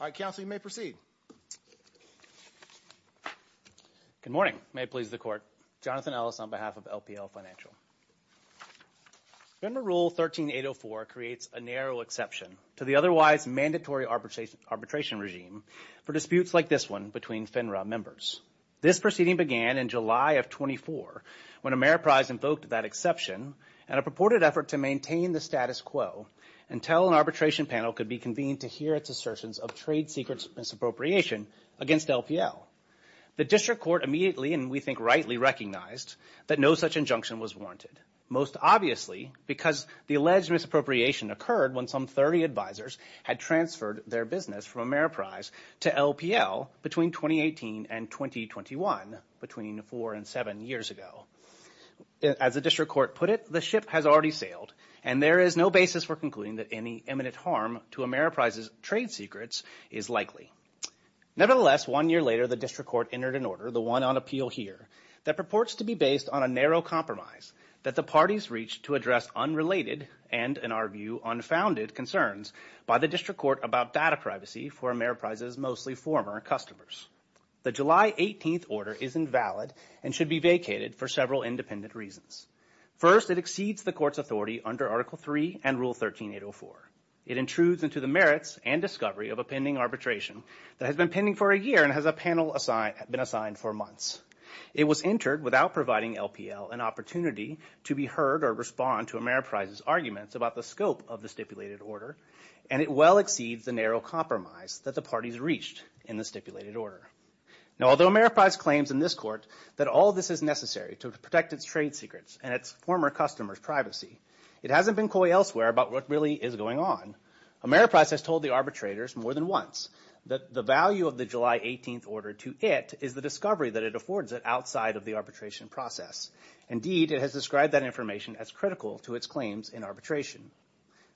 All right, Counsel, you may proceed. Good morning. May it please the Court. Jonathan Ellis on behalf of LPL Financial. FINRA Rule 13804 creates a narrow exception to the otherwise mandatory arbitration regime for disputes like this one between FINRA members. This proceeding began in July of 2004 when Ameriprise invoked that exception in a purported effort to maintain the status quo until an arbitration panel could be convened to hear its assertions of trade secrets misappropriation against LPL. The District Court immediately, and we think rightly, recognized that no such injunction was warranted, most obviously because the alleged misappropriation occurred when some 30 advisors had transferred their business from Ameriprise to LPL between 2018 and 2021, between four and seven years ago. As the District Court put it, the ship has already sailed, and there is no basis for concluding that any imminent harm to Ameriprise's trade secrets is likely. Nevertheless, one year later, the District Court entered an order, the one on appeal here, that purports to be based on a narrow compromise that the parties reached to address unrelated and, in our view, unfounded concerns by the District Court about data privacy for Ameriprise's mostly former customers. The July 18th order is invalid and should be vacated for several independent reasons. First, it exceeds the Court's authority under Article 3 and Rule 13804. It intrudes into the merits and discovery of a pending arbitration that has been pending for a year and has a panel been assigned for months. It was entered without providing LPL an opportunity to be heard or respond to Ameriprise's arguments about the scope of the stipulated order, and it well exceeds the narrow compromise that the parties reached in the stipulated order. Now, although Ameriprise claims in this court that all this is necessary to protect its trade secrets and its former customers' privacy, it hasn't been coy elsewhere about what really is going on. Ameriprise has told the arbitrators more than once that the value of the July 18th order to it is the discovery that it affords it outside of the arbitration process. Indeed, it has described that information as critical to its claims in arbitration.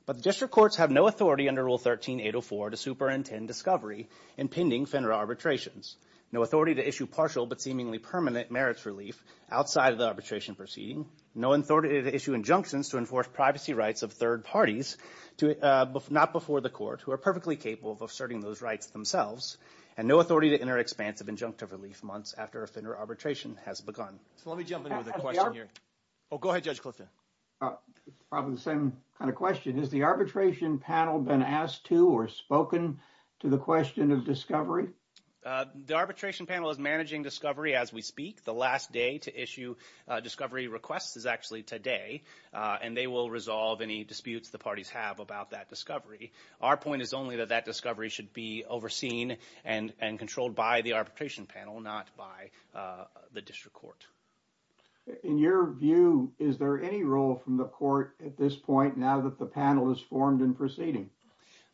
But the district courts have no authority under Rule 13804 to superintend discovery in pending FINRA arbitrations, no authority to issue partial but seemingly permanent merits relief outside of the arbitration proceeding, no authority to issue injunctions to enforce privacy rights of third parties not before the court who are perfectly capable of asserting those rights themselves, and no authority to enter expansive injunctive relief months after a FINRA arbitration has begun. So let me jump into the question here. Oh, go ahead, Judge Clifton. It's probably the same kind of question. Has the arbitration panel been asked to or spoken to the question of discovery? The arbitration panel is managing discovery as we speak. The last day to issue discovery requests is actually today, and they will resolve any disputes the parties have about that discovery. Our point is only that that discovery should be overseen and controlled by the arbitration panel, not by the district court. In your view, is there any role from the court at this point now that the panel is formed and proceeding?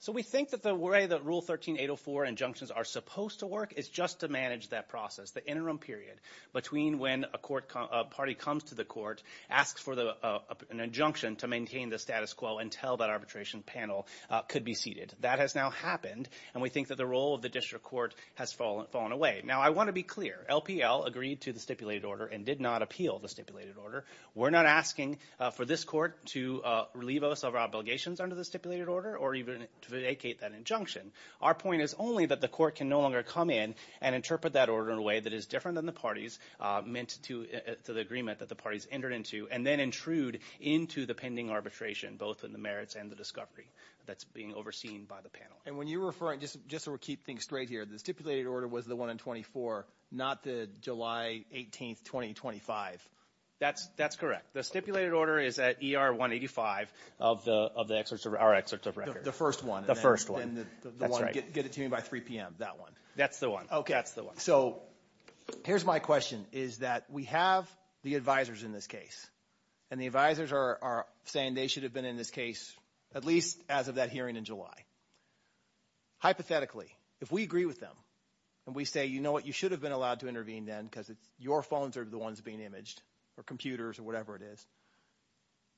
So we think that the way that Rule 13804 injunctions are supposed to work is just to manage that process, the interim period between when a court party comes to the court, asks for an injunction to maintain the status quo until that arbitration panel could be seated. That has now happened, and we think that the role of the district court has fallen away. Now, I want to be clear. LPL agreed to the stipulated order and did not appeal the stipulated order. We're not asking for this court to relieve us of our obligations under the stipulated order or even to vacate that injunction. Our point is only that the court can no longer come in and interpret that order in a way that is different than the parties meant to the agreement that the parties entered into, and then intrude into the pending arbitration, both in the merits and the discovery that's being overseen by the panel. And when you're referring, just to keep things straight here, the stipulated order was the one in 24, not the July 18, 2025. That's correct. The stipulated order is at ER 185 of our excerpts of record. The first one. The first one. And the one, get it to me by 3 p.m., that one. That's the one. Okay. That's the one. So here's my question, is that we have the advisors in this case, and the advisors are saying they should have been in this case at least as of that hearing in July. Hypothetically, if we agree with them and we say, you know what, you should have been allowed to intervene then because your phones are the ones being imaged or computers or whatever it is,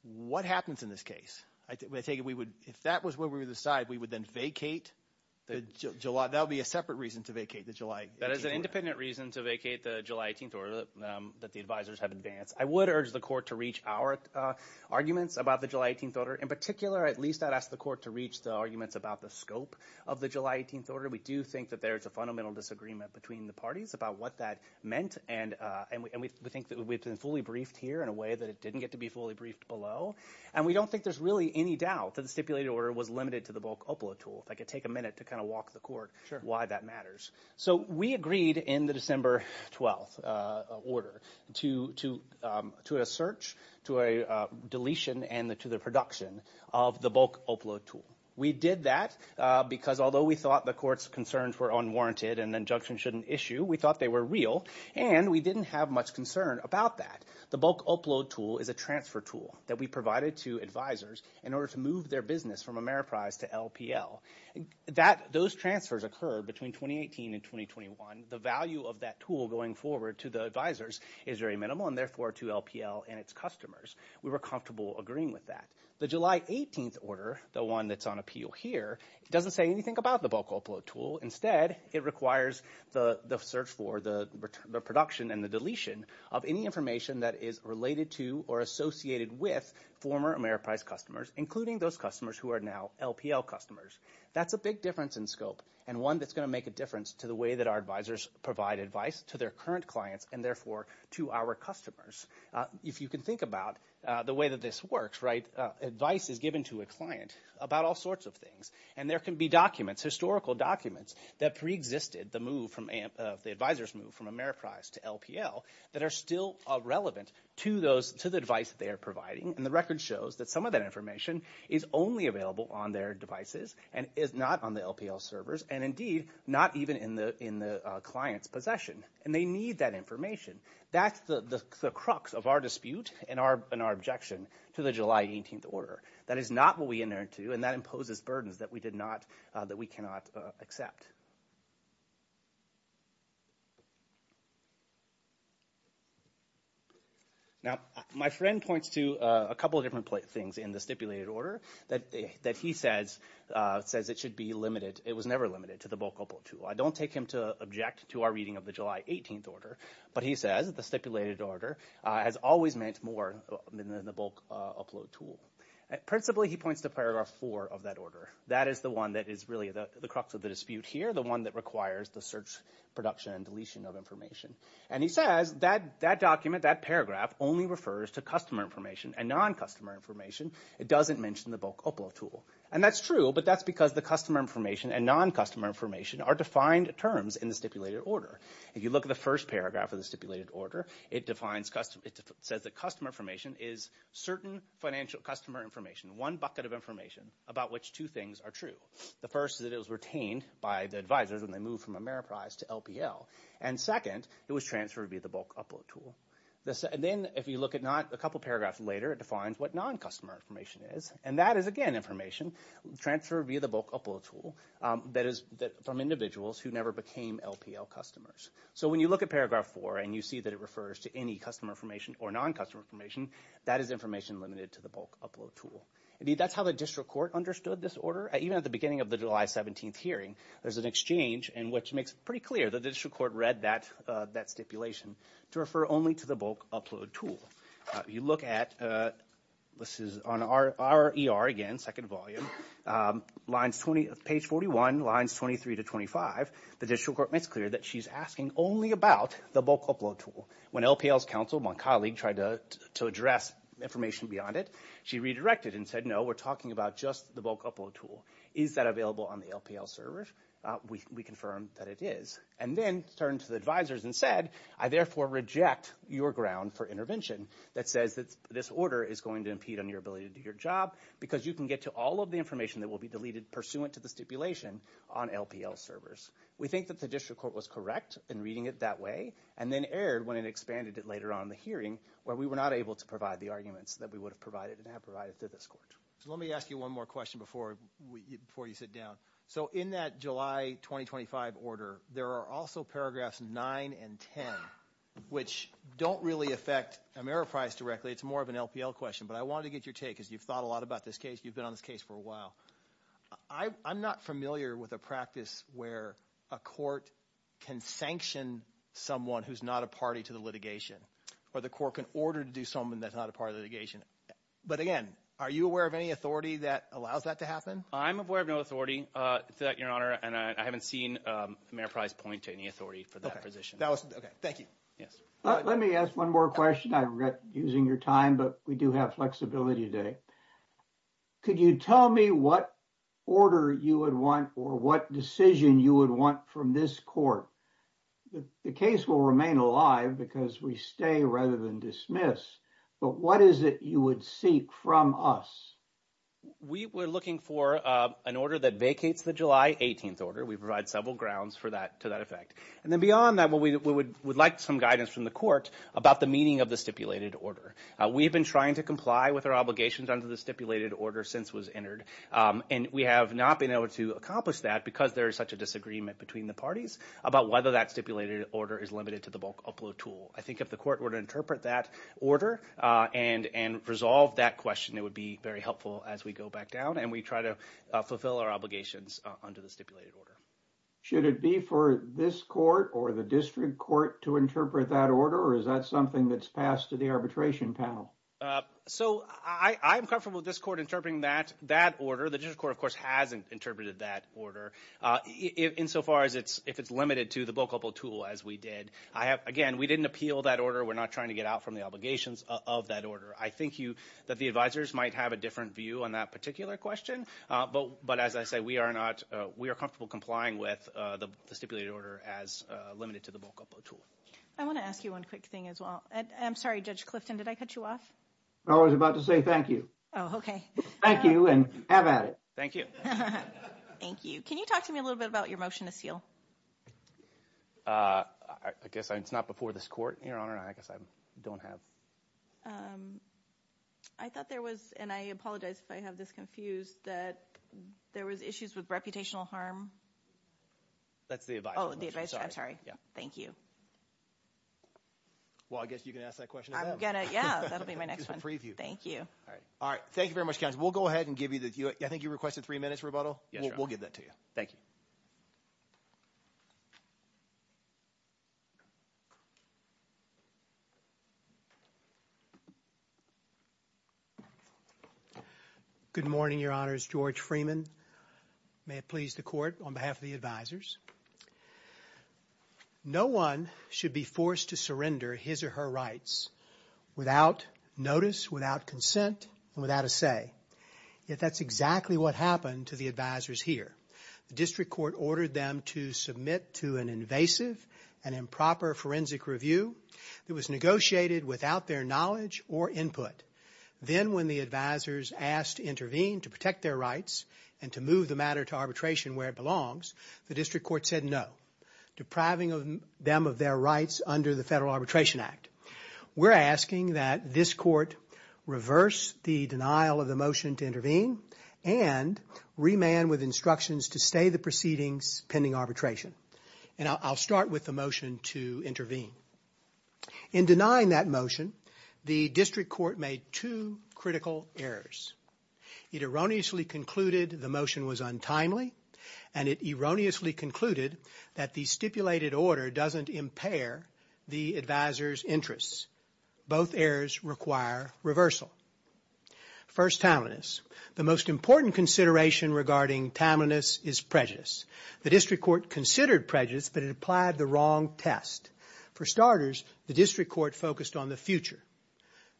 what happens in this case? I take it we would, if that was where we would decide, we would then vacate the July, that would be a separate reason to vacate the July 18 order. That is an independent reason to vacate the July 18 order that the advisors have advanced. I would urge the court to reach our arguments about the July 18 order. In particular, at least I'd ask the court to reach the arguments about the scope of the July 18 order. We do think that there is a fundamental disagreement between the parties about what that meant, and we think that we've been fully briefed here in a way that it didn't get to be fully briefed below, and we don't think there's really any doubt that the stipulated order was limited to the bulk OPLA tool. If I could take a minute to kind of walk the court why that matters. So we agreed in the December 12 order to a search, to a deletion, and to the production of the bulk OPLA tool. We did that because although we thought the court's concerns were unwarranted and injunctions shouldn't issue, we thought they were real, and we didn't have much concern about that. The bulk OPLA tool is a transfer tool that we provided to advisors in order to move their business from Ameriprise to LPL. Those transfers occurred between 2018 and 2021. The value of that tool going forward to the advisors is very minimal, and therefore to LPL and its customers. We were comfortable agreeing with that. The July 18 order, the one that's on appeal here, doesn't say anything about the bulk OPLA tool. Instead, it requires the search for the production and the deletion of any information that is related to or associated with former Ameriprise customers, including those customers who are now LPL customers. That's a big difference in scope and one that's going to make a difference to the way that our advisors provide advice to their current clients and, therefore, to our customers. If you can think about the way that this works, right, advice is given to a client about all sorts of things, and there can be documents, historical documents, that preexisted the move from the advisors' move from Ameriprise to LPL that are still relevant to the advice that they are providing, and the record shows that some of that information is only available on their devices and is not on the LPL servers and, indeed, not even in the client's possession, and they need that information. That's the crux of our dispute and our objection to the July 18 order. That is not what we inert to, and that imposes burdens that we cannot accept. Now, my friend points to a couple of different things in the stipulated order that he says it should be limited. It was never limited to the bulk upload tool. I don't take him to object to our reading of the July 18 order, but he says the stipulated order has always meant more than the bulk upload tool. Principally, he points to Paragraph 4 of that order. That is the one that is really the crux of the dispute here, the one that requires the search, production, and deletion of information, and he says that document, that paragraph, only refers to customer information and non-customer information. It doesn't mention the bulk upload tool, and that's true, but that's because the customer information and non-customer information are defined terms in the stipulated order. If you look at the first paragraph of the stipulated order, it says that customer information is certain financial customer information, one bucket of information about which two things are true. The first is that it was retained by the advisors when they moved from Ameriprise to LPL, and second, it was transferred via the bulk upload tool. Then if you look at a couple paragraphs later, it defines what non-customer information is, and that is, again, information transferred via the bulk upload tool from individuals who never became LPL customers. So when you look at paragraph four and you see that it refers to any customer information or non-customer information, that is information limited to the bulk upload tool. That's how the district court understood this order. Even at the beginning of the July 17th hearing, there's an exchange, which makes it pretty clear that the district court read that stipulation to refer only to the bulk upload tool. You look at, this is on our ER again, second volume, page 41, lines 23 to 25. The district court makes clear that she's asking only about the bulk upload tool. When LPL's counsel, my colleague, tried to address information beyond it, she redirected and said, no, we're talking about just the bulk upload tool. Is that available on the LPL server? We confirmed that it is, and then turned to the advisors and said, I therefore reject your ground for intervention that says that this order is going to impede on your ability to do your job because you can get to all of the information that will be deleted pursuant to the stipulation on LPL servers. We think that the district court was correct in reading it that way and then erred when it expanded it later on in the hearing where we were not able to provide the arguments that we would have provided and have provided to this court. Let me ask you one more question before you sit down. So in that July 2025 order, there are also paragraphs 9 and 10, which don't really affect Ameriprise directly. It's more of an LPL question, but I wanted to get your take because you've thought a lot about this case. You've been on this case for a while. I'm not familiar with a practice where a court can sanction someone who's not a party to the litigation or the court can order to do something that's not a part of the litigation. But again, are you aware of any authority that allows that to happen? I'm aware of no authority to that, Your Honor, and I haven't seen Ameriprise point to any authority for that position. Okay. Thank you. Yes. Let me ask one more question. I regret using your time, but we do have flexibility today. Could you tell me what order you would want or what decision you would want from this court? The case will remain alive because we stay rather than dismiss, but what is it you would seek from us? We're looking for an order that vacates the July 18th order. We provide several grounds to that effect. And then beyond that, we would like some guidance from the court about the meaning of the stipulated order. We have been trying to comply with our obligations under the stipulated order since it was entered, and we have not been able to accomplish that because there is such a disagreement between the parties about whether that stipulated order is limited to the bulk upload tool. I think if the court were to interpret that order and resolve that question, it would be very helpful as we go back down, and we try to fulfill our obligations under the stipulated order. Should it be for this court or the district court to interpret that order, or is that something that's passed to the arbitration panel? So I'm comfortable with this court interpreting that order. The district court, of course, hasn't interpreted that order insofar as if it's limited to the bulk upload tool, as we did. Again, we didn't appeal that order. We're not trying to get out from the obligations of that order. I think that the advisors might have a different view on that particular question, but as I say, we are comfortable complying with the stipulated order as limited to the bulk upload tool. I want to ask you one quick thing as well. I'm sorry, Judge Clifton, did I cut you off? I was about to say thank you. Oh, okay. Thank you, and have at it. Thank you. Thank you. Can you talk to me a little bit about your motion to seal? I guess it's not before this court, Your Honor. I guess I don't have. I thought there was, and I apologize if I have this confused, that there was issues with reputational harm. That's the advisor. Oh, the advisor. I'm sorry. Thank you. Well, I guess you can ask that question to them. Yeah, that will be my next one. Thank you. All right. Thank you very much, counsel. We'll go ahead and give you the view. I think you requested three minutes rebuttal. Yes, Your Honor. We'll give that to you. Thank you. Good morning, Your Honors. George Freeman. May it please the Court on behalf of the advisors. No one should be forced to surrender his or her rights without notice, without consent, and without a say. Yet that's exactly what happened to the advisors here. The district court ordered them to submit to an invasive and improper forensic review. It was negotiated without their knowledge or input. Then when the advisors asked to intervene to protect their rights and to move the matter to arbitration where it belongs, the district court said no, depriving them of their rights under the Federal Arbitration Act. We're asking that this court reverse the denial of the motion to intervene and remand with instructions to stay the proceedings pending arbitration. And I'll start with the motion to intervene. In denying that motion, the district court made two critical errors. It erroneously concluded the motion was untimely, and it erroneously concluded that the stipulated order doesn't impair the advisors' interests. Both errors require reversal. First, timeliness. The most important consideration regarding timeliness is prejudice. The district court considered prejudice, but it applied the wrong test. For starters, the district court focused on the future.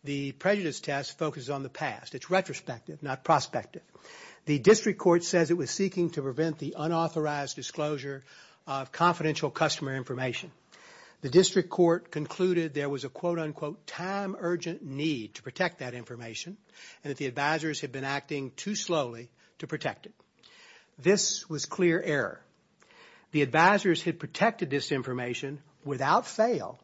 The prejudice test focused on the past. It's retrospective, not prospective. The district court says it was seeking to prevent the unauthorized disclosure of confidential customer information. The district court concluded there was a, quote-unquote, time-urgent need to protect that information, and that the advisors had been acting too slowly to protect it. This was clear error. The advisors had protected this information without fail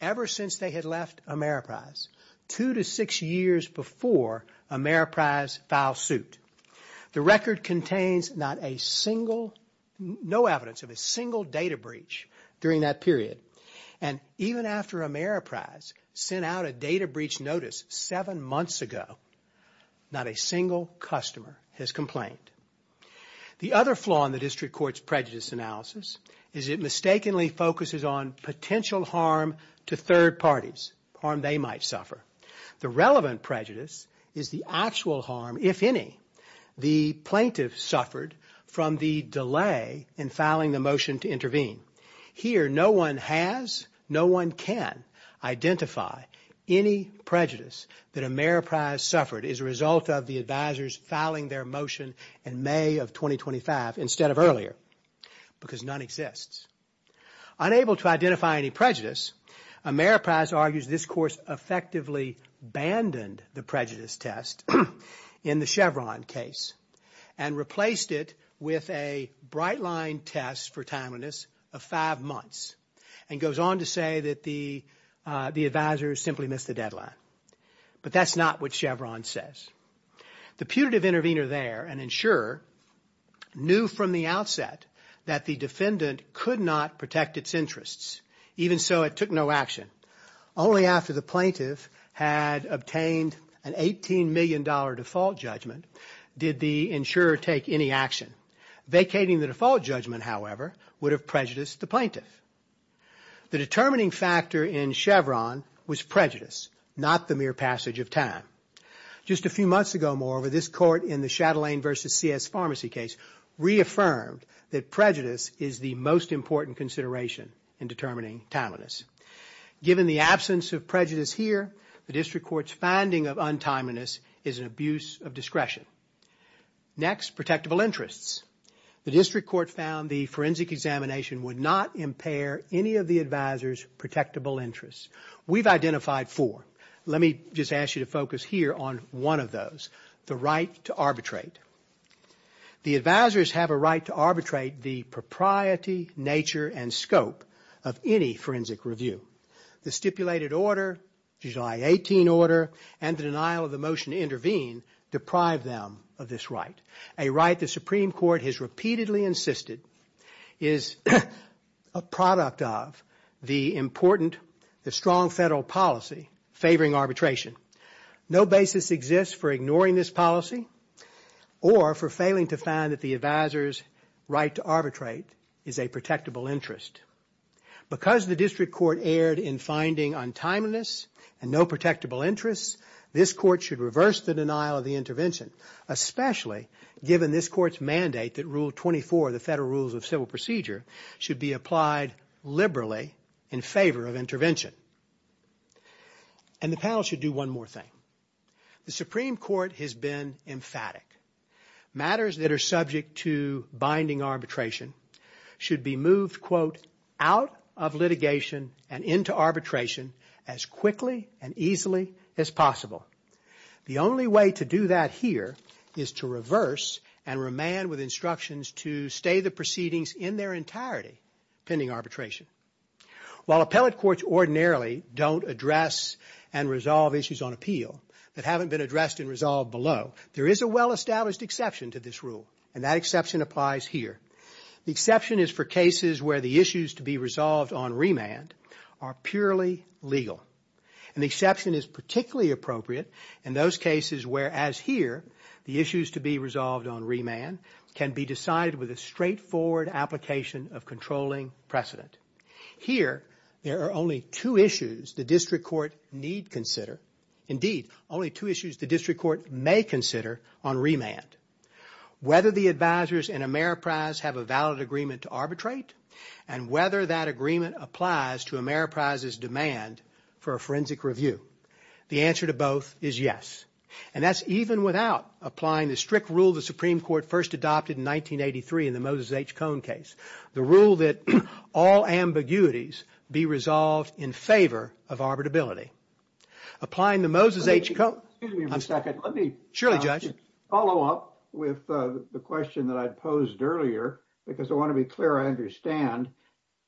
ever since they had left Ameriprise, two to six years before Ameriprise filed suit. The record contains not a single, no evidence of a single data breach during that period. And even after Ameriprise sent out a data breach notice seven months ago, not a single customer has complained. The other flaw in the district court's prejudice analysis is it mistakenly focuses on potential harm to third parties, harm they might suffer. The relevant prejudice is the actual harm, if any, the plaintiff suffered from the delay in filing the motion to intervene. Here, no one has, no one can, identify any prejudice that Ameriprise suffered as a result of the advisors filing their motion in May of 2025 instead of earlier, because none exists. Unable to identify any prejudice, Ameriprise argues this course effectively abandoned the prejudice test in the Chevron case and replaced it with a bright-line test for timeliness of five months and goes on to say that the advisors simply missed the deadline. But that's not what Chevron says. The putative intervener there, an insurer, knew from the outset that the defendant could not protect its interests. Even so, it took no action. Only after the plaintiff had obtained an $18 million default judgment did the insurer take any action. Vacating the default judgment, however, would have prejudiced the plaintiff. The determining factor in Chevron was prejudice, not the mere passage of time. Just a few months ago more, this court in the Chatelaine v. C.S. Pharmacy case reaffirmed that prejudice is the most important consideration in determining timeliness. Given the absence of prejudice here, the district court's finding of untimeliness is an abuse of discretion. Next, protectable interests. The district court found the forensic examination would not impair any of the advisor's protectable interests. We've identified four. Let me just ask you to focus here on one of those, the right to arbitrate. The advisors have a right to arbitrate the propriety, nature, and scope of any forensic review. The stipulated order, the July 18 order, and the denial of the motion to intervene deprive them of this right, a right the Supreme Court has repeatedly insisted is a product of the important, the strong federal policy favoring arbitration. No basis exists for ignoring this policy or for failing to find that the advisor's right to arbitrate is a protectable interest. Because the district court erred in finding untimeliness and no protectable interests, this court should reverse the denial of the intervention, especially given this court's mandate that Rule 24, the federal rules of civil procedure, should be applied liberally in favor of intervention. And the panel should do one more thing. The Supreme Court has been emphatic. Matters that are subject to binding arbitration should be moved, quote, out of litigation and into arbitration as quickly and easily as possible. The only way to do that here is to reverse and remand with instructions to stay the proceedings in their entirety pending arbitration. While appellate courts ordinarily don't address and resolve issues on appeal that haven't been addressed and resolved below, there is a well-established exception to this rule, and that exception applies here. The exception is for cases where the issues to be resolved on remand are purely legal. And the exception is particularly appropriate in those cases where, as here, the issues to be resolved on remand can be decided with a straightforward application of controlling precedent. Here, there are only two issues the district court need consider. Indeed, only two issues the district court may consider on remand. Whether the advisers in Ameriprise have a valid agreement to arbitrate and whether that agreement applies to Ameriprise's demand for a forensic review. The answer to both is yes. And that's even without applying the strict rule the Supreme Court first adopted in 1983 in the Moses H. Cohn case, the rule that all ambiguities be resolved in favor of arbitrability. Applying the Moses H. Cohn... Excuse me for a second. Surely, Judge. Let me follow up with the question that I posed earlier because I want to be clear I understand.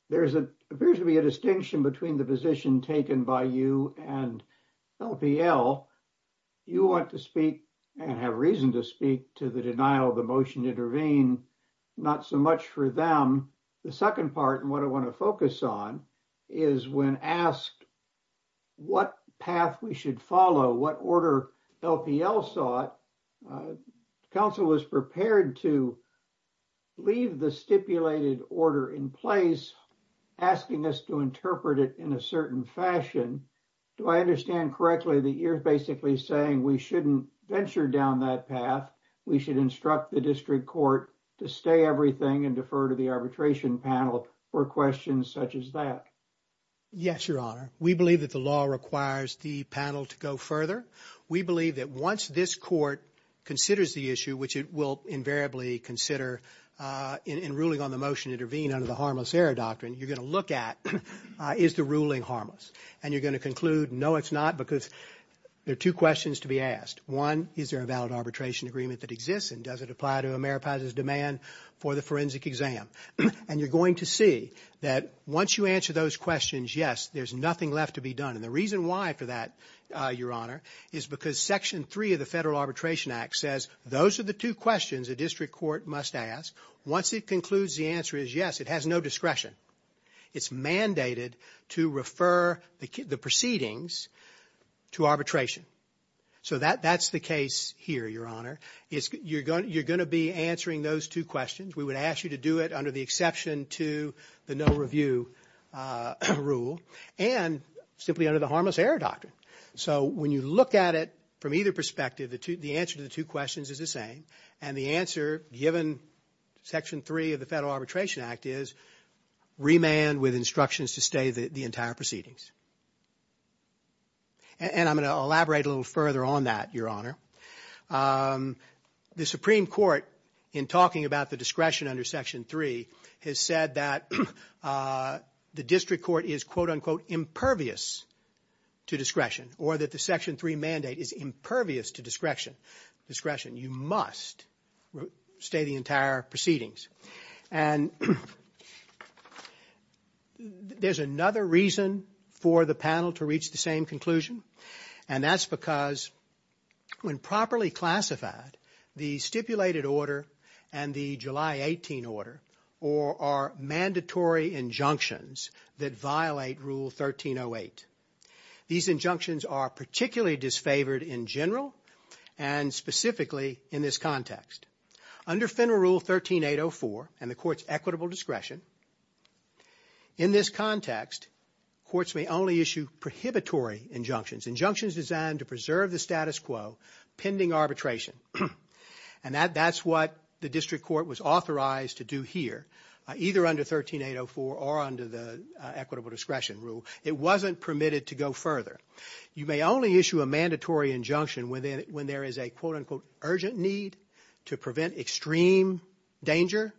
There appears to be a distinction between the position taken by you and LPL. You want to speak and have reason to speak to the denial of the motion to intervene, not so much for them. The second part and what I want to focus on is when asked what path we should follow, what order LPL sought, counsel was prepared to leave the stipulated order in place asking us to interpret it in a certain fashion. Do I understand correctly that you're basically saying we shouldn't venture down that path? We should instruct the district court to stay everything and defer to the arbitration panel for questions such as that. Yes, Your Honor. We believe that the law requires the panel to go further. We believe that once this court considers the issue, which it will invariably consider in ruling on the motion to intervene under the harmless error doctrine, you're going to look at is the ruling harmless and you're going to conclude no, it's not because there are two questions to be asked. One, is there a valid arbitration agreement that exists and does it apply to Ameripas' demand for the forensic exam? And you're going to see that once you answer those questions, yes, there's nothing left to be done. And the reason why for that, Your Honor, is because Section 3 of the Federal Arbitration Act says those are the two questions a district court must ask. Once it concludes the answer is yes, it has no discretion. It's mandated to refer the proceedings to arbitration. So that's the case here, Your Honor. You're going to be answering those two questions. We would ask you to do it under the exception to the no review rule and simply under the harmless error doctrine. So when you look at it from either perspective, the answer to the two questions is the same, and the answer given Section 3 of the Federal Arbitration Act is remand with instructions to stay the entire proceedings. And I'm going to elaborate a little further on that, Your Honor. The Supreme Court, in talking about the discretion under Section 3, has said that the district court is, quote, unquote, impervious to discretion, or that the Section 3 mandate is impervious to discretion. You must stay the entire proceedings. And there's another reason for the panel to reach the same conclusion, and that's because when properly classified, the stipulated order and the July 18 order are mandatory injunctions that violate Rule 1308. These injunctions are particularly disfavored in general and specifically in this context. Under Federal Rule 13804 and the court's equitable discretion, in this context, courts may only issue prohibitory injunctions, injunctions designed to preserve the status quo pending arbitration. And that's what the district court was authorized to do here, either under 13804 or under the equitable discretion rule. It wasn't permitted to go further. You may only issue a mandatory injunction when there is a, quote, unquote, urgent need to prevent extreme danger.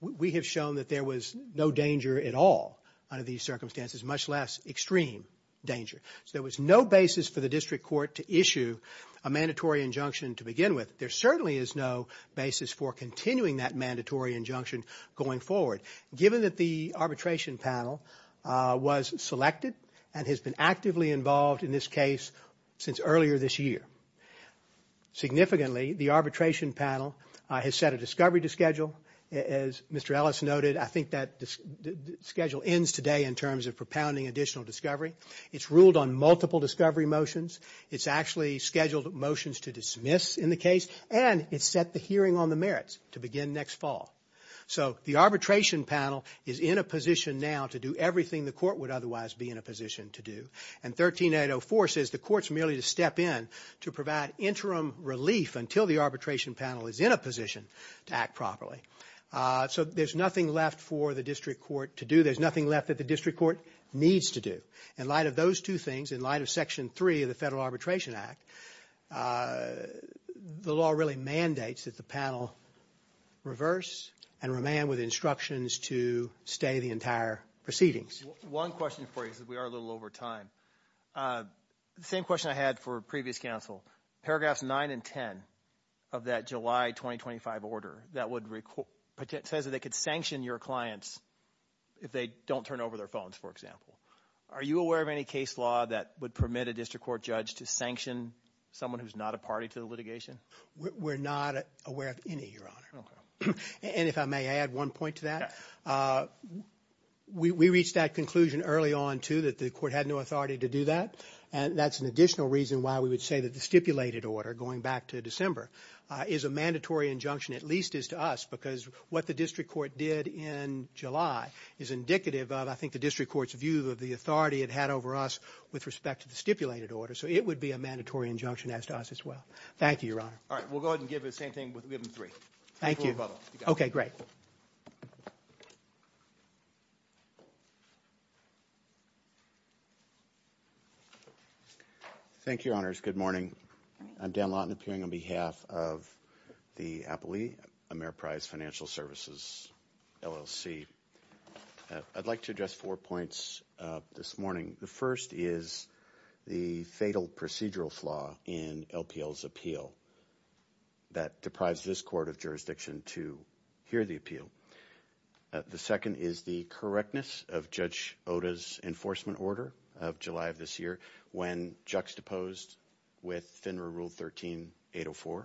We have shown that there was no danger at all under these circumstances, much less extreme danger. So there was no basis for the district court to issue a mandatory injunction to begin with. There certainly is no basis for continuing that mandatory injunction going forward. Given that the arbitration panel was selected and has been actively involved in this case since earlier this year. Significantly, the arbitration panel has set a discovery to schedule. As Mr. Ellis noted, I think that schedule ends today in terms of propounding additional discovery. It's ruled on multiple discovery motions. It's actually scheduled motions to dismiss in the case, and it's set the hearing on the merits to begin next fall. So the arbitration panel is in a position now to do everything the court would otherwise be in a position to do. And 13804 says the court's merely to step in to provide interim relief until the arbitration panel is in a position to act properly. So there's nothing left for the district court to do. There's nothing left that the district court needs to do. In light of those two things, in light of Section 3 of the Federal Arbitration Act, the law really mandates that the panel reverse and remain with instructions to stay the entire proceedings. One question for you, because we are a little over time. The same question I had for previous counsel. Paragraphs 9 and 10 of that July 2025 order that says that they could sanction your clients if they don't turn over their phones, for example. Are you aware of any case law that would permit a district court judge to sanction someone who's not a party to the litigation? We're not aware of any, Your Honor. Okay. And if I may add one point to that. We reached that conclusion early on, too, that the court had no authority to do that. And that's an additional reason why we would say that the stipulated order, going back to December, is a mandatory injunction, at least as to us, because what the district court did in July is indicative of, I think, the district court's view of the authority it had over us with respect to the stipulated order. So it would be a mandatory injunction as to us as well. Thank you, Your Honor. All right. We'll go ahead and give the same thing. We'll give them three. Thank you. Okay. Great. Thank you, Your Honors. Good morning. I'm Dan Lawton, appearing on behalf of the Appellee, Ameriprise Financial Services, LLC. I'd like to address four points this morning. The first is the fatal procedural flaw in LPL's appeal that deprives this court of jurisdiction to hear the appeal. The second is the correctness of Judge Oda's enforcement order of July of this year when juxtaposed with FINRA Rule 13-804.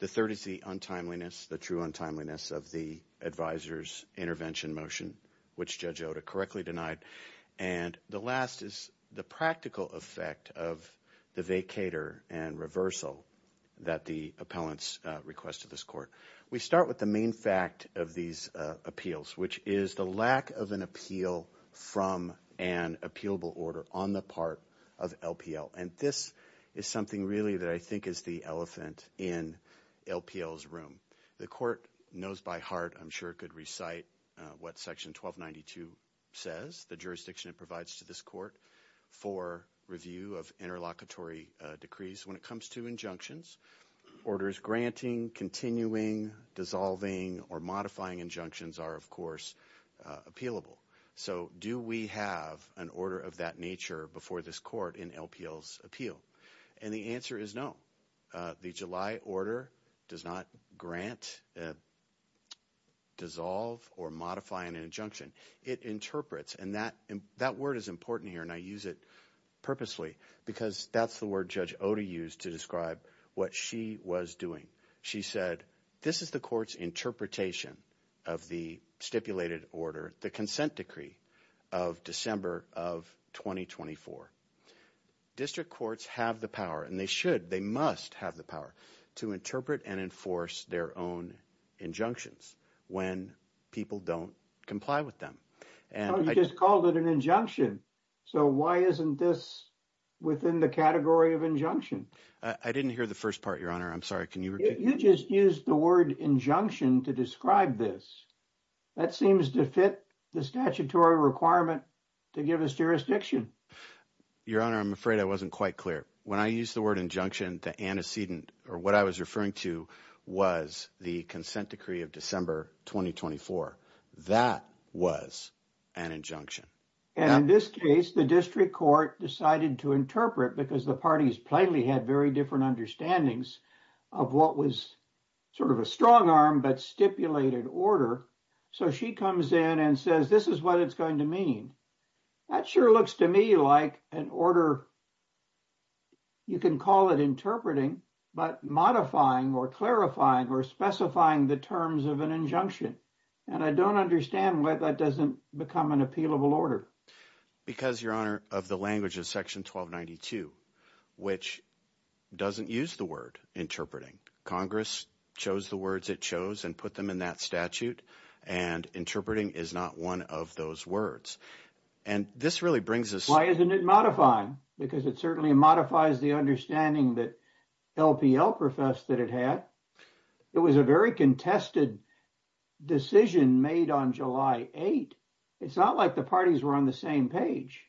The third is the untimeliness, the true untimeliness of the advisor's intervention motion, which Judge Oda correctly denied. And the last is the practical effect of the vacator and reversal that the appellants request of this court. We start with the main fact of these appeals, which is the lack of an appeal from an appealable order on the part of LPL. And this is something really that I think is the elephant in LPL's room. The court knows by heart, I'm sure, could recite what Section 1292 says, the jurisdiction it provides to this court for review of interlocutory decrees. When it comes to injunctions, orders granting, continuing, dissolving, or modifying injunctions are, of course, appealable. So do we have an order of that nature before this court in LPL's appeal? And the answer is no. The July order does not grant, dissolve, or modify an injunction. It interprets, and that word is important here, and I use it purposely because that's the word Judge Oda used to describe what she was doing. She said, this is the court's interpretation of the stipulated order, the consent decree of December of 2024. District courts have the power, and they should, they must have the power to interpret and enforce their own injunctions when people don't comply with them. You just called it an injunction. So why isn't this within the category of injunction? I didn't hear the first part, Your Honor. I'm sorry. Can you repeat? You just used the word injunction to describe this. That seems to fit the statutory requirement to give us jurisdiction. Your Honor, I'm afraid I wasn't quite clear. When I used the word injunction, the antecedent, or what I was referring to, was the consent decree of December 2024. That was an injunction. And in this case, the district court decided to interpret because the parties plainly had very different understandings of what was sort of a strong arm but stipulated order. So she comes in and says, this is what it's going to mean. That sure looks to me like an order, you can call it interpreting, but modifying or clarifying or specifying the terms of an injunction. And I don't understand why that doesn't become an appealable order. Because, Your Honor, of the language of Section 1292, which doesn't use the word interpreting. Congress chose the words it chose and put them in that statute, and interpreting is not one of those words. And this really brings us... Why isn't it modifying? Because it certainly modifies the understanding that LPL professed that it had. It was a very contested decision made on July 8. It's not like the parties were on the same page.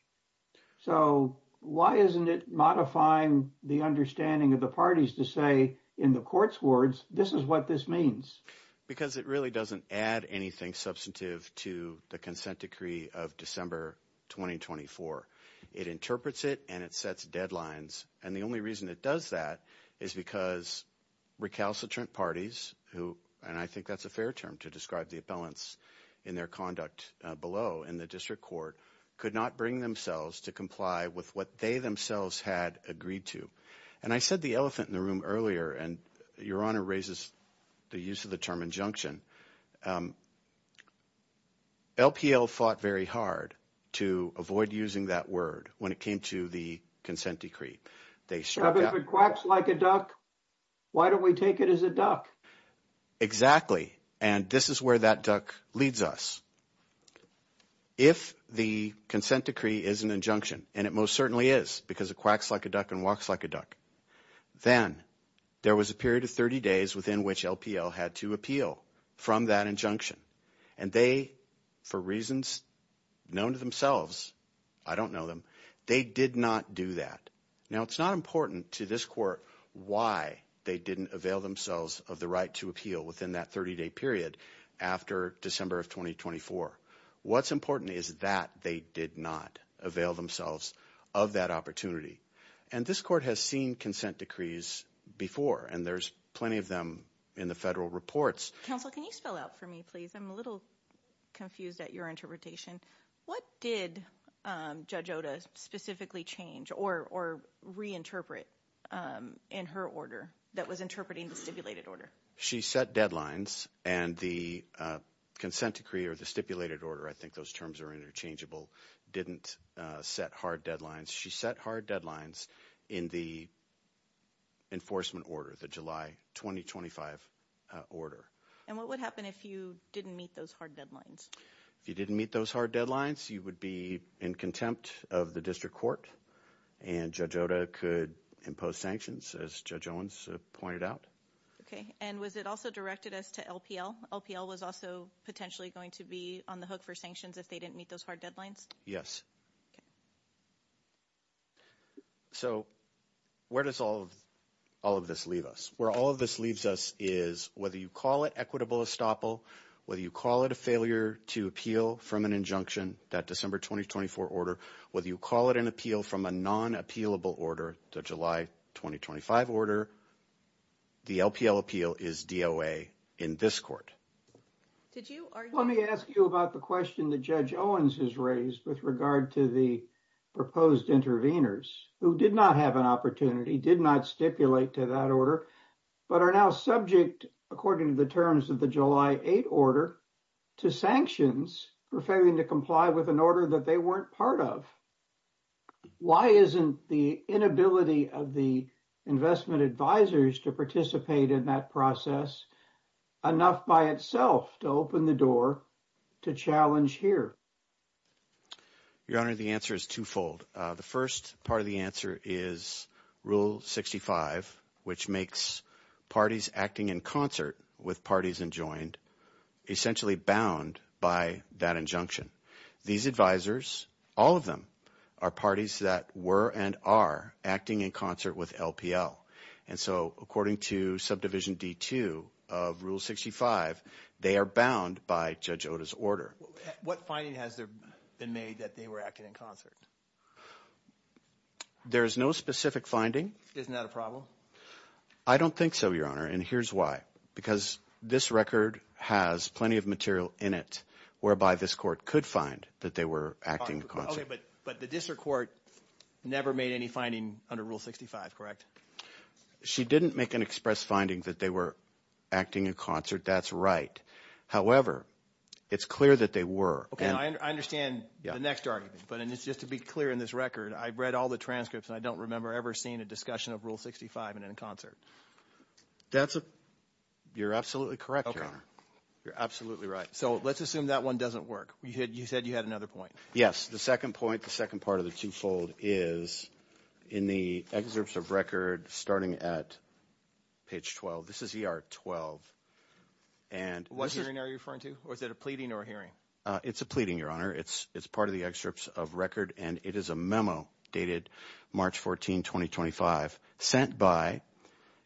So why isn't it modifying the understanding of the parties to say, in the court's words, this is what this means? Because it really doesn't add anything substantive to the consent decree of December 2024. It interprets it and it sets deadlines. And the only reason it does that is because recalcitrant parties, and I think that's a fair term to describe the appellants in their conduct below in the district court, could not bring themselves to comply with what they themselves had agreed to. And I said the elephant in the room earlier, and Your Honor raises the use of the term injunction. LPL fought very hard to avoid using that word when it came to the consent decree. If it quacks like a duck, why don't we take it as a duck? Exactly. And this is where that duck leads us. If the consent decree is an injunction, and it most certainly is, because it quacks like a duck and walks like a duck, then there was a period of 30 days within which LPL had to appeal from that injunction. And they, for reasons known to themselves, I don't know them, they did not do that. Now, it's not important to this court why they didn't avail themselves of the right to appeal within that 30-day period after December of 2024. What's important is that they did not avail themselves of that opportunity. And this court has seen consent decrees before, and there's plenty of them in the federal reports. Counsel, can you spell out for me, please? I'm a little confused at your interpretation. What did Judge Oda specifically change or reinterpret in her order that was interpreting the stipulated order? She set deadlines, and the consent decree or the stipulated order, I think those terms are interchangeable, didn't set hard deadlines. She set hard deadlines in the enforcement order, the July 2025 order. And what would happen if you didn't meet those hard deadlines? If you didn't meet those hard deadlines, you would be in contempt of the district court, and Judge Oda could impose sanctions, as Judge Owens pointed out. Okay. And was it also directed as to LPL? LPL was also potentially going to be on the hook for sanctions if they didn't meet those hard deadlines? Yes. So where does all of this leave us? Where all of this leaves us is whether you call it equitable estoppel, whether you call it a failure to appeal from an injunction, that December 2024 order, whether you call it an appeal from a non-appealable order, the July 2025 order, the LPL appeal is DOA in this court. Let me ask you about the question that Judge Owens has raised with regard to the proposed interveners who did not have an opportunity, did not stipulate to that order, but are now subject, according to the terms of the July 8 order, to sanctions for failing to comply with an order that they weren't part of. Why isn't the inability of the investment advisors to participate in that process enough by itself to open the door to challenge here? Your Honor, the answer is twofold. The first part of the answer is Rule 65, which makes parties acting in concert with parties enjoined essentially bound by that injunction. These advisors, all of them, are parties that were and are acting in concert with LPL. And so according to Subdivision D-2 of Rule 65, they are bound by Judge Oda's order. What finding has been made that they were acting in concert? There is no specific finding. Isn't that a problem? I don't think so, Your Honor, and here's why. Because this record has plenty of material in it whereby this court could find that they were acting in concert. Okay, but the district court never made any finding under Rule 65, correct? She didn't make an express finding that they were acting in concert. That's right. However, it's clear that they were. Okay, I understand the next argument, but just to be clear in this record, I've read all the transcripts and I don't remember ever seeing a discussion of Rule 65 in a concert. That's a – you're absolutely correct, Your Honor. Okay, you're absolutely right. So let's assume that one doesn't work. You said you had another point. Yes, the second point, the second part of the twofold is in the excerpts of record starting at page 12. This is ER 12. What hearing are you referring to? Was it a pleading or a hearing? It's a pleading, Your Honor. It's part of the excerpts of record, and it is a memo dated March 14, 2025 sent by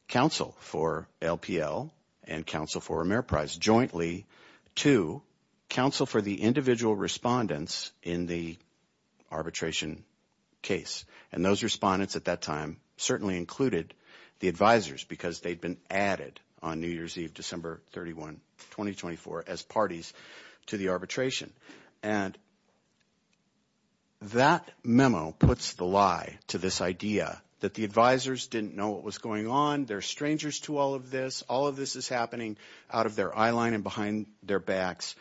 counsel for LPL and counsel for Ameriprise jointly to counsel for the individual respondents in the arbitration case. And those respondents at that time certainly included the advisers because they'd been added on New Year's Eve, December 31, 2024 as parties to the arbitration. And that memo puts the lie to this idea that the advisers didn't know what was going on. They're strangers to all of this. All of this is happening out of their eyeline and behind their backs.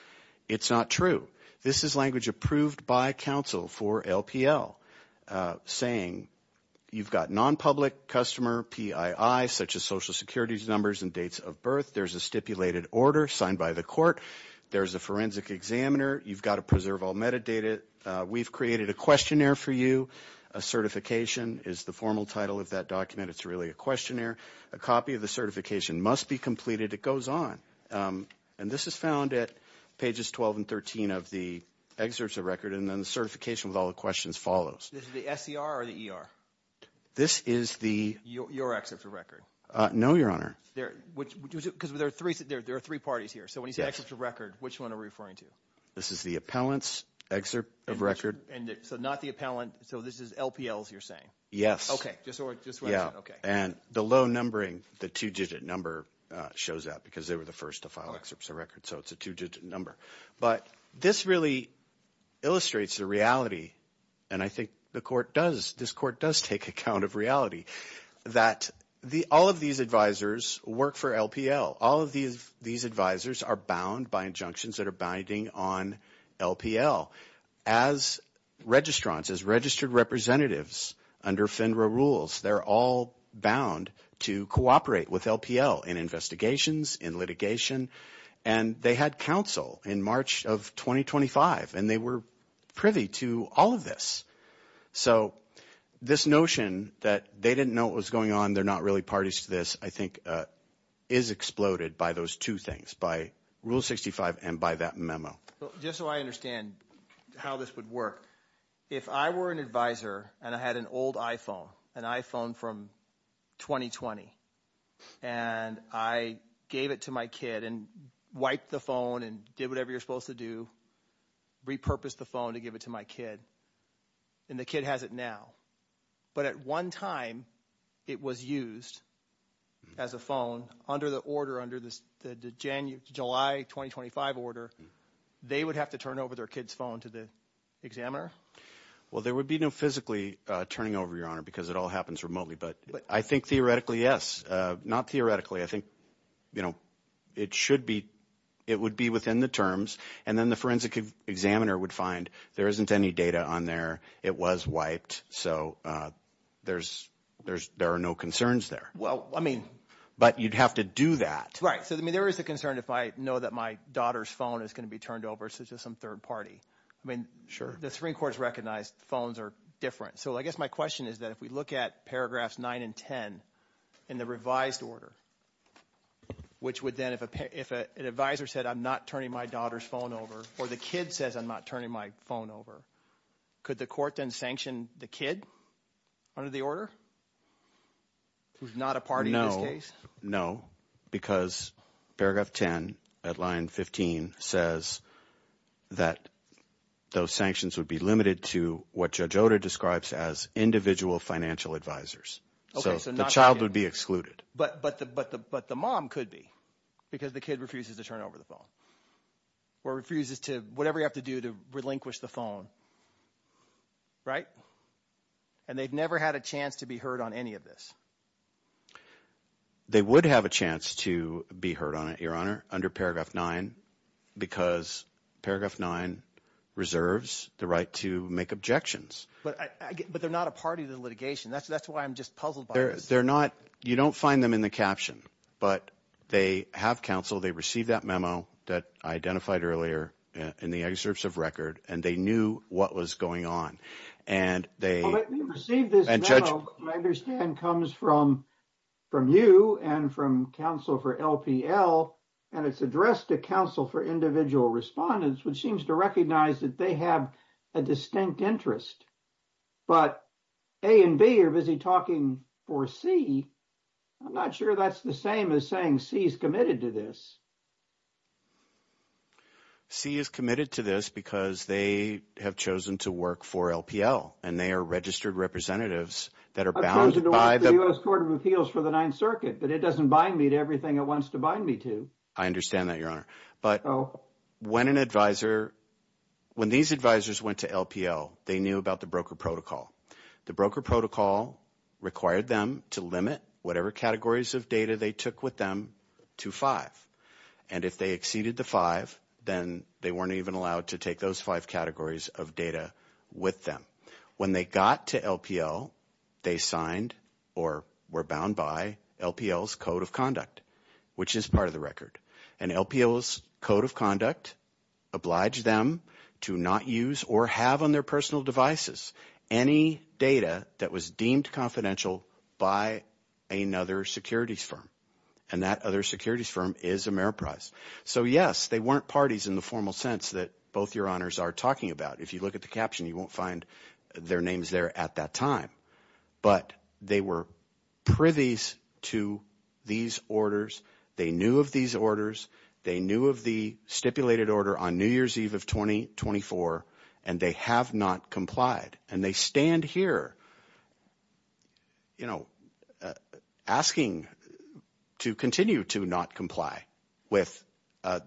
It's not true. This is language approved by counsel for LPL saying you've got nonpublic customer PII such as Social Security numbers and dates of birth. There's a stipulated order signed by the court. There's a forensic examiner. You've got to preserve all metadata. We've created a questionnaire for you. A certification is the formal title of that document. It's really a questionnaire. A copy of the certification must be completed. It goes on. And this is found at pages 12 and 13 of the excerpts of record. And then the certification with all the questions follows. Is it the SCR or the ER? This is the – Your excerpts of record. No, Your Honor. Because there are three parties here. So when you say excerpts of record, which one are we referring to? This is the appellant's excerpt of record. So not the appellant. So this is LPL's you're saying? Yes. Okay. And the low numbering, the two-digit number, shows that because they were the first to file excerpts of record. So it's a two-digit number. But this really illustrates the reality, and I think the court does, this court does take account of reality, that all of these advisors work for LPL. All of these advisors are bound by injunctions that are binding on LPL. As registrants, as registered representatives under FINRA rules, they're all bound to cooperate with LPL in investigations, in litigation. And they had counsel in March of 2025, and they were privy to all of this. So this notion that they didn't know what was going on, they're not really parties to this, I think is exploded by those two things, by Rule 65 and by that memo. Just so I understand how this would work, if I were an advisor and I had an old iPhone, an iPhone from 2020, and I gave it to my kid and wiped the phone and did whatever you're supposed to do, repurposed the phone to give it to my kid, and the kid has it now, but at one time it was used as a phone under the order, under the July 2025 order, they would have to turn over their kid's phone to the examiner? Well, there would be no physically turning over, Your Honor, because it all happens remotely. But I think theoretically, yes. Not theoretically. I think it would be within the terms, and then the forensic examiner would find there isn't any data on there, it was wiped, so there are no concerns there. But you'd have to do that. Right. So there is a concern if I know that my daughter's phone is going to be turned over to some third party. The Supreme Court has recognized phones are different. So I guess my question is that if we look at paragraphs 9 and 10 in the revised order, which would then, if an advisor said I'm not turning my daughter's phone over or the kid says I'm not turning my phone over, could the court then sanction the kid under the order who's not a party in this case? No, because paragraph 10 at line 15 says that those sanctions would be limited to what Judge Oda describes as individual financial advisors. So the child would be excluded. But the mom could be because the kid refuses to turn over the phone or refuses to – whatever you have to do to relinquish the phone. Right? And they've never had a chance to be heard on any of this. They would have a chance to be heard on it, Your Honor, under paragraph 9 because paragraph 9 reserves the right to make objections. But they're not a party to the litigation. That's why I'm just puzzled by this. They're not – you don't find them in the caption, but they have counsel. They received that memo that I identified earlier in the excerpts of record, and they knew what was going on. And they – Well, they received this memo, I understand, comes from you and from counsel for LPL, and it's addressed to counsel for individual respondents, which seems to recognize that they have a distinct interest. But A and B are busy talking for C. I'm not sure that's the same as saying C is committed to this. C is committed to this because they have chosen to work for LPL, and they are registered representatives that are bound by the – I've chosen to work for the U.S. Court of Appeals for the Ninth Circuit, but it doesn't bind me to everything it wants to bind me to. I understand that, Your Honor. But when an advisor – when these advisors went to LPL, they knew about the broker protocol. The broker protocol required them to limit whatever categories of data they took with them to five. And if they exceeded the five, then they weren't even allowed to take those five categories of data with them. When they got to LPL, they signed or were bound by LPL's Code of Conduct, which is part of the record. And LPL's Code of Conduct obliged them to not use or have on their personal devices any data that was deemed confidential by another securities firm. And that other securities firm is Ameriprise. So, yes, they weren't parties in the formal sense that both Your Honors are talking about. If you look at the caption, you won't find their names there at that time. But they were privy to these orders. They knew of these orders. They knew of the stipulated order on New Year's Eve of 2024, and they have not complied. And they stand here asking to continue to not comply with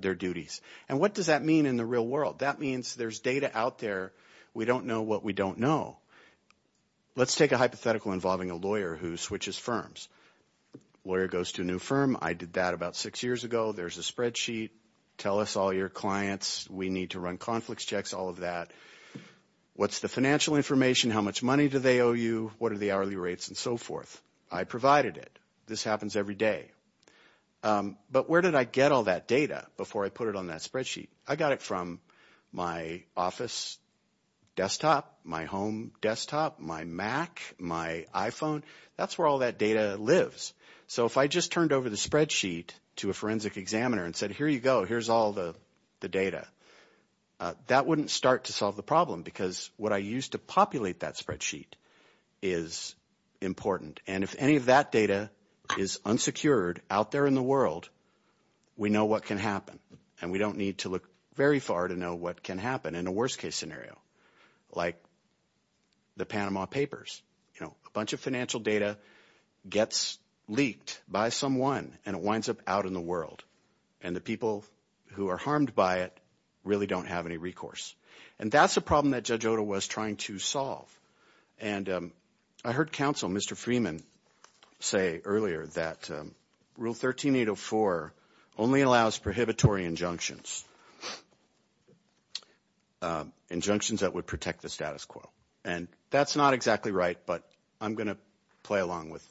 their duties. And what does that mean in the real world? That means there's data out there. We don't know what we don't know. Let's take a hypothetical involving a lawyer who switches firms. Lawyer goes to a new firm. I did that about six years ago. There's a spreadsheet. Tell us all your clients. We need to run conflicts checks, all of that. What's the financial information? How much money do they owe you? What are the hourly rates and so forth? I provided it. This happens every day. But where did I get all that data before I put it on that spreadsheet? I got it from my office desktop, my home desktop, my Mac, my iPhone. That's where all that data lives. So if I just turned over the spreadsheet to a forensic examiner and said, here you go, here's all the data, that wouldn't start to solve the problem because what I used to populate that spreadsheet is important. And if any of that data is unsecured out there in the world, we know what can happen, and we don't need to look very far to know what can happen in a worst-case scenario, like the Panama Papers. A bunch of financial data gets leaked by someone, and it winds up out in the world, and the people who are harmed by it really don't have any recourse. And that's a problem that Judge Oda was trying to solve. And I heard counsel, Mr. Freeman, say earlier that Rule 13804 only allows prohibitory injunctions, injunctions that would protect the status quo. And that's not exactly right, but I'm going to play along with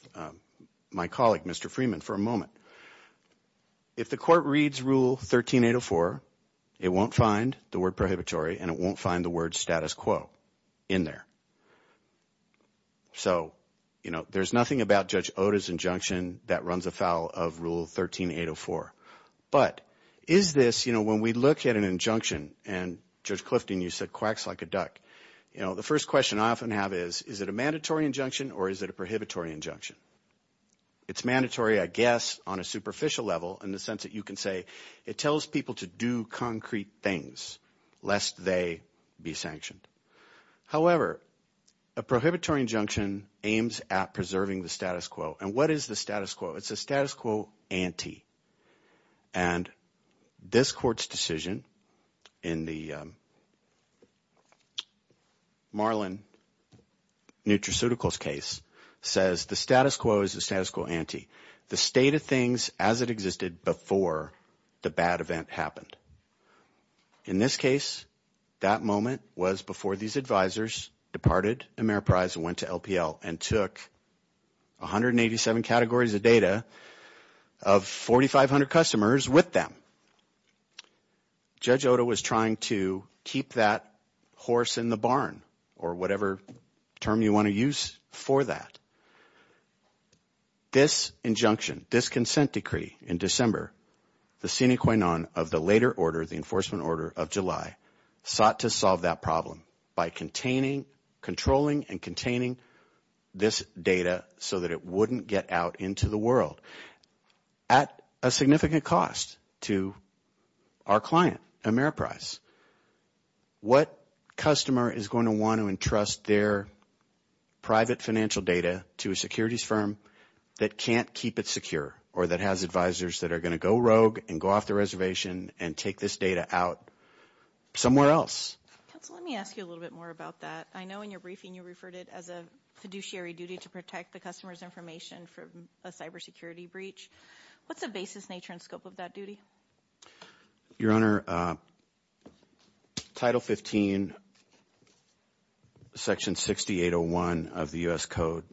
my colleague, Mr. Freeman, for a moment. If the court reads Rule 13804, it won't find the word prohibitory and it won't find the word status quo in there. So, you know, there's nothing about Judge Oda's injunction that runs afoul of Rule 13804. But is this, you know, when we look at an injunction, and, Judge Clifton, you said quacks like a duck, you know, the first question I often have is, is it a mandatory injunction or is it a prohibitory injunction? It's mandatory, I guess, on a superficial level in the sense that you can say it tells people to do concrete things lest they be sanctioned. However, a prohibitory injunction aims at preserving the status quo. And what is the status quo? It's a status quo ante. And this court's decision in the Marlin Nutraceuticals case says the status quo is a status quo ante, the state of things as it existed before the bad event happened. In this case, that moment was before these advisors departed Ameriprise and went to LPL and took 187 categories of data of 4,500 customers with them. Judge Oda was trying to keep that horse in the barn or whatever term you want to use for that. This injunction, this consent decree in December, the sine qua non of the later order, the enforcement order of July, sought to solve that problem by containing, controlling and containing this data so that it wouldn't get out into the world at a significant cost to our client, Ameriprise. What customer is going to want to entrust their private financial data to a securities firm that can't keep it secure or that has advisors that are going to go rogue and go off the reservation and take this data out somewhere else? Counsel, let me ask you a little bit more about that. I know in your briefing you referred it as a fiduciary duty to protect the customer's information from a cybersecurity breach. What's the basis, nature and scope of that duty? Your Honor, Title 15, Section 6801 of the U.S. Code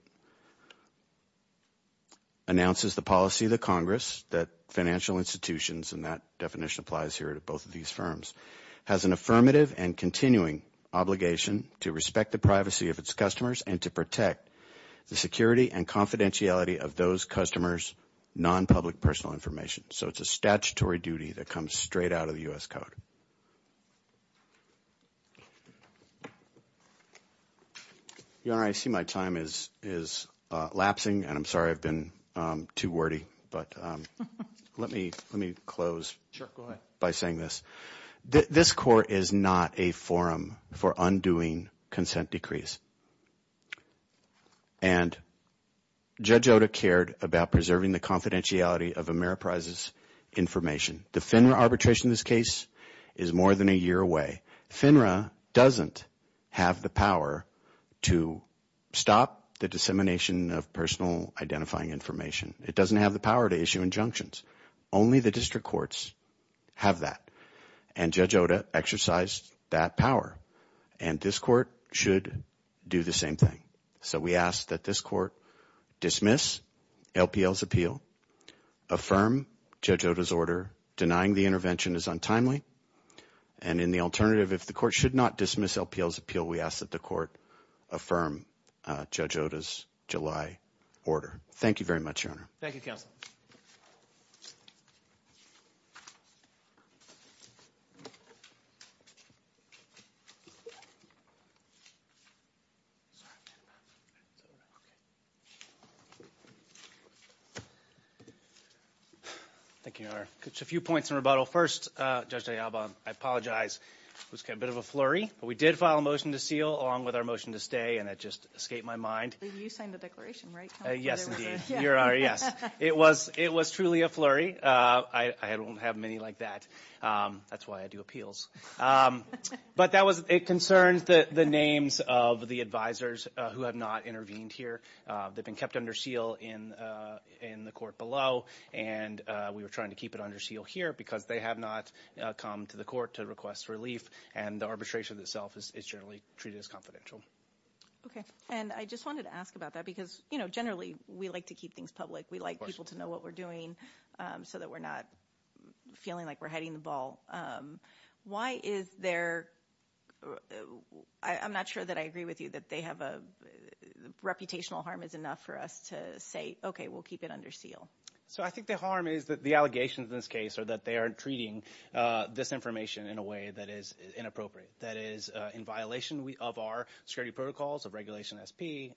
announces the policy of the Congress that financial institutions, and that definition applies here to both of these firms, has an affirmative and continuing obligation to respect the privacy of its customers and to protect the security and confidentiality of those customers' non-public personal information. So it's a statutory duty that comes straight out of the U.S. Code. Your Honor, I see my time is lapsing, and I'm sorry I've been too wordy, but let me close by saying this. This Court is not a forum for undoing consent decrees. And Judge Oda cared about preserving the confidentiality of Ameriprise's information. The FINRA arbitration in this case is more than a year away. FINRA doesn't have the power to stop the dissemination of personal identifying information. It doesn't have the power to issue injunctions. Only the district courts have that, and Judge Oda exercised that power. And this Court should do the same thing. So we ask that this Court dismiss LPL's appeal, affirm Judge Oda's order. Denying the intervention is untimely. And in the alternative, if the Court should not dismiss LPL's appeal, we ask that the Court affirm Judge Oda's July order. Thank you very much, Your Honor. Thank you, Counsel. Thank you, Your Honor. Just a few points in rebuttal. First, Judge de Alba, I apologize. It was a bit of a flurry, but we did file a motion to seal along with our motion to stay, and it just escaped my mind. You signed the declaration, right, Counsel? Yes, indeed. Your Honor, yes. It was truly a flurry. I don't have many like that. That's why I do appeals. But it concerns the names of the advisors who have not intervened here. They've been kept under seal in the Court below, and we were trying to keep it under seal here because they have not come to the Court to request relief, and the arbitration itself is generally treated as confidential. Okay. And I just wanted to ask about that because, you know, generally we like to keep things public. We like people to know what we're doing so that we're not feeling like we're hiding the ball. Why is there – I'm not sure that I agree with you that they have a – reputational harm is enough for us to say, okay, we'll keep it under seal. So I think the harm is that the allegations in this case are that they are treating this information in a way that is inappropriate, that is in violation of our security protocols, of Regulation SP,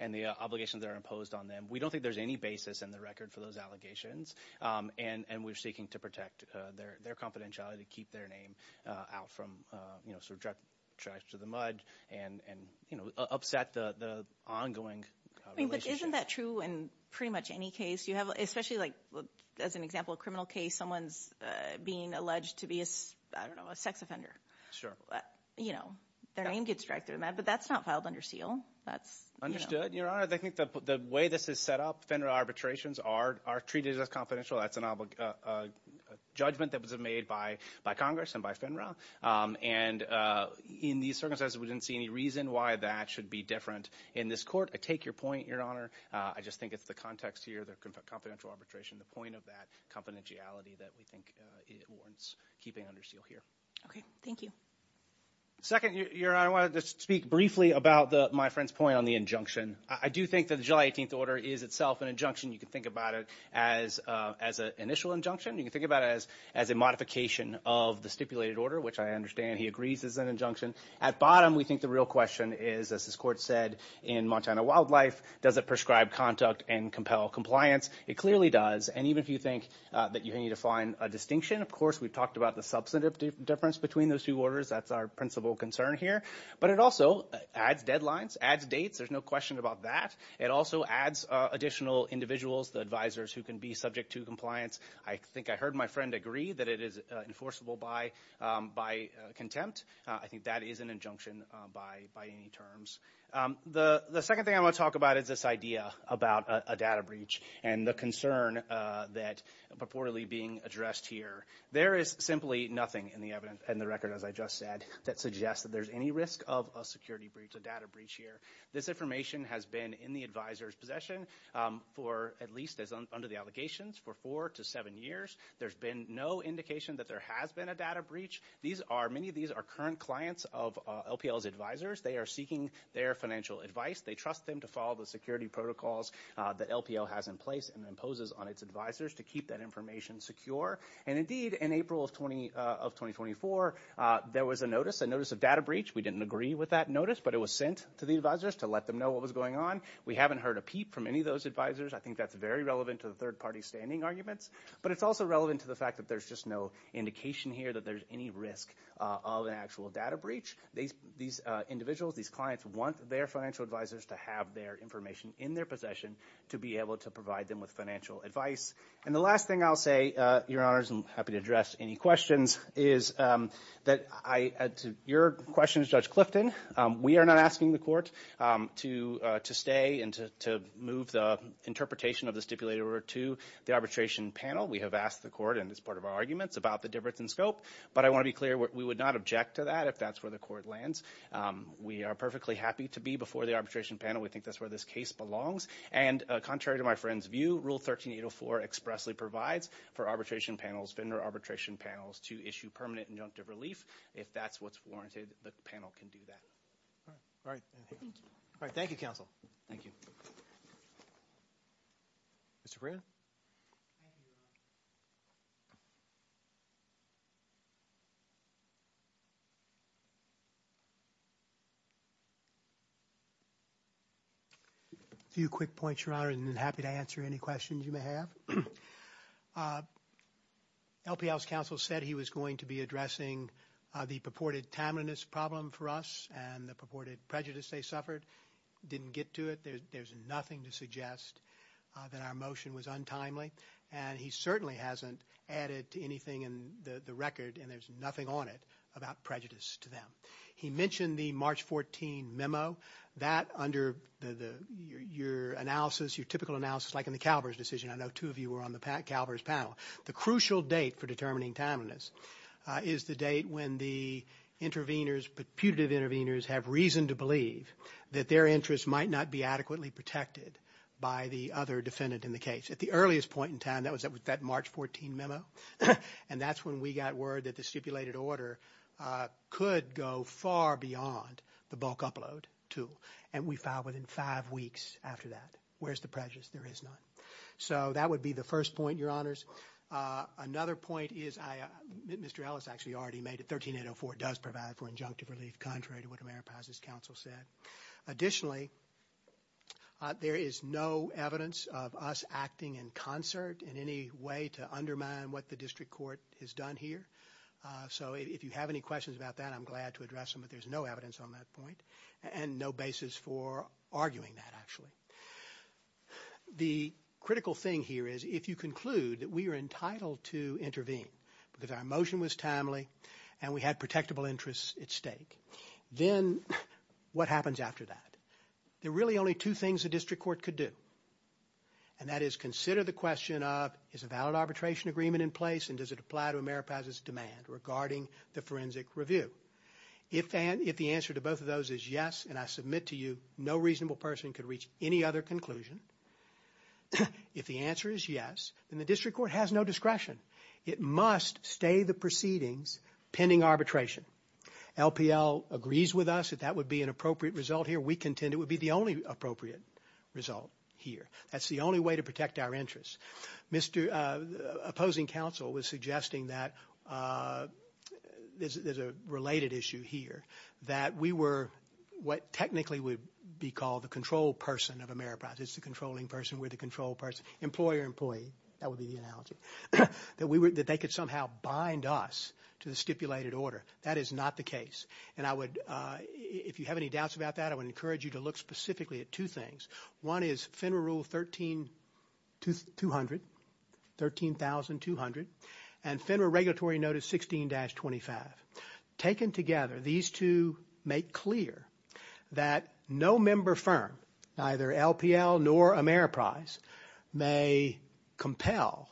and the obligations that are imposed on them. We don't think there's any basis in the record for those allegations, and we're seeking to protect their confidentiality, keep their name out from, you know, sort of dragged to the mud and, you know, upset the ongoing relationship. But isn't that true in pretty much any case? You have – especially, like, as an example, a criminal case, someone's being alleged to be, I don't know, a sex offender. Sure. You know, their name gets dragged through the mud, but that's not filed under seal. That's, you know. Understood, Your Honor. I think the way this is set up, FINRA arbitrations are treated as confidential. That's a judgment that was made by Congress and by FINRA. And in these circumstances, we didn't see any reason why that should be different in this court. I take your point, Your Honor. I just think it's the context here, the confidential arbitration, the point of that confidentiality that we think warrants keeping under seal here. Okay. Thank you. Second, Your Honor, I wanted to speak briefly about my friend's point on the injunction. I do think that the July 18th order is itself an injunction. You can think about it as an initial injunction. You can think about it as a modification of the stipulated order, which I understand he agrees is an injunction. At bottom, we think the real question is, as this court said in Montana Wildlife, does it prescribe, conduct, and compel compliance? It clearly does. And even if you think that you need to find a distinction, of course, we've talked about the substantive difference between those two orders. That's our principal concern here. But it also adds deadlines, adds dates. There's no question about that. It also adds additional individuals, the advisors who can be subject to compliance. I think I heard my friend agree that it is enforceable by contempt. I think that is an injunction by any terms. The second thing I want to talk about is this idea about a data breach and the concern that purportedly being addressed here. There is simply nothing in the record, as I just said, that suggests that there's any risk of a security breach, a data breach here. This information has been in the advisor's possession for at least, under the allegations, for four to seven years. There's been no indication that there has been a data breach. Many of these are current clients of LPL's advisors. They are seeking their financial advice. They trust them to follow the security protocols that LPL has in place and imposes on its advisors to keep that information secure. And, indeed, in April of 2024, there was a notice, a notice of data breach. We didn't agree with that notice, but it was sent to the advisors to let them know what was going on. We haven't heard a peep from any of those advisors. I think that's very relevant to the third-party standing arguments. But it's also relevant to the fact that there's just no indication here that there's any risk of an actual data breach. These individuals, these clients, want their financial advisors to have their information in their possession to be able to provide them with financial advice. And the last thing I'll say, Your Honors, and I'm happy to address any questions, is that your question is Judge Clifton. We are not asking the court to stay and to move the interpretation of the stipulated order to the arbitration panel. We have asked the court, and it's part of our arguments, about the difference in scope. But I want to be clear, we would not object to that if that's where the court lands. We are perfectly happy to be before the arbitration panel. We think that's where this case belongs. And contrary to my friend's view, Rule 13804 expressly provides for arbitration panels, vendor arbitration panels, to issue permanent injunctive relief. If that's what's warranted, the panel can do that. All right. Thank you. All right. Thank you, Counsel. Thank you. Mr. Brannon? Thank you, Your Honor. A few quick points, Your Honor, and I'm happy to answer any questions you may have. LPL's counsel said he was going to be addressing the purported timeliness problem for us and the purported prejudice they suffered. Didn't get to it. There's nothing to suggest that our motion was untimely. And he certainly hasn't added to anything in the record, and there's nothing on it, about prejudice to them. He mentioned the March 14 memo. That, under your analysis, your typical analysis, like in the Calvers decision, I know two of you were on the Calvers panel, the crucial date for determining timeliness is the date when the interveners, putative interveners, have reason to believe that their interests might not be adequately protected by the other defendant in the case. At the earliest point in time, that was that March 14 memo, and that's when we got word that the stipulated order could go far beyond the bulk upload tool, and we filed within five weeks after that. Where's the prejudice? There is none. So that would be the first point, Your Honors. Another point is, Mr. Ellis actually already made it, 13-804 does provide for injunctive relief, contrary to what AmeriPaz's counsel said. Additionally, there is no evidence of us acting in concert in any way to undermine what the district court has done here. So if you have any questions about that, I'm glad to address them, but there's no evidence on that point and no basis for arguing that, actually. The critical thing here is if you conclude that we are entitled to intervene because our motion was timely and we had protectable interests at stake, then what happens after that? There are really only two things the district court could do, and that is consider the question of is a valid arbitration agreement in place and does it apply to AmeriPaz's demand regarding the forensic review. If the answer to both of those is yes and I submit to you that no reasonable person could reach any other conclusion, if the answer is yes, then the district court has no discretion. It must stay the proceedings pending arbitration. LPL agrees with us that that would be an appropriate result here. We contend it would be the only appropriate result here. That's the only way to protect our interests. Opposing counsel was suggesting that there's a related issue here, that we were what technically would be called the control person of AmeriPaz. It's the controlling person. We're the control person. Employer, employee. That would be the analogy. That they could somehow bind us to the stipulated order. That is not the case, and if you have any doubts about that, I would encourage you to look specifically at two things. One is FINRA Rule 13200, 13,200, and FINRA Regulatory Notice 16-25. Taken together, these two make clear that no member firm, neither LPL nor AmeriPaz, may compel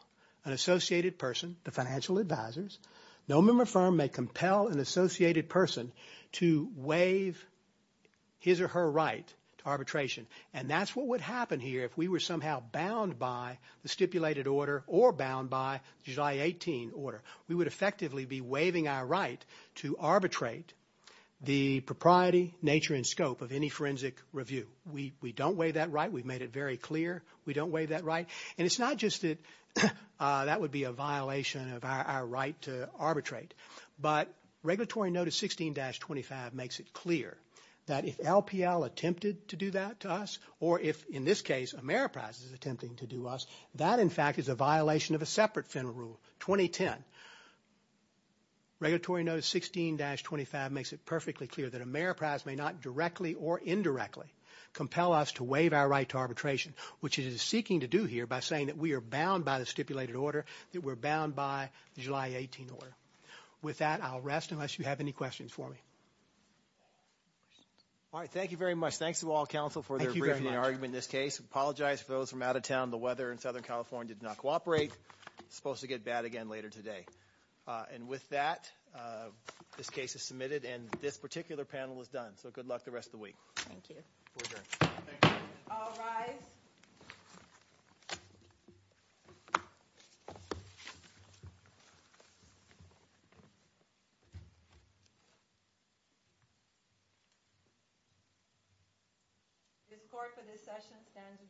an associated person, the financial advisors, no member firm may compel an associated person to waive his or her right to arbitration, and that's what would happen here if we were somehow bound by the stipulated order or bound by the July 18 order. We would effectively be waiving our right to arbitrate the propriety, nature, and scope of any forensic review. We don't waive that right. We've made it very clear we don't waive that right, and it's not just that that would be a violation of our right to arbitrate, but Regulatory Notice 16-25 makes it clear that if LPL attempted to do that to us or if, in this case, AmeriPaz is attempting to do us, that, in fact, is a violation of a separate FINRA rule, 2010. Regulatory Notice 16-25 makes it perfectly clear that AmeriPaz may not directly or indirectly compel us to waive our right to arbitration, which it is seeking to do here by saying that we are bound by the stipulated order, that we're bound by the July 18 order. With that, I'll rest unless you have any questions for me. All right, thank you very much. Thanks to all counsel for their briefing and argument in this case. I apologize for those from out of town. The weather in Southern California did not cooperate. It's supposed to get bad again later today. And with that, this case is submitted, and this particular panel is done. So good luck the rest of the week. Thank you. We're adjourned. Thank you. All rise. This court for this session stands adjourned.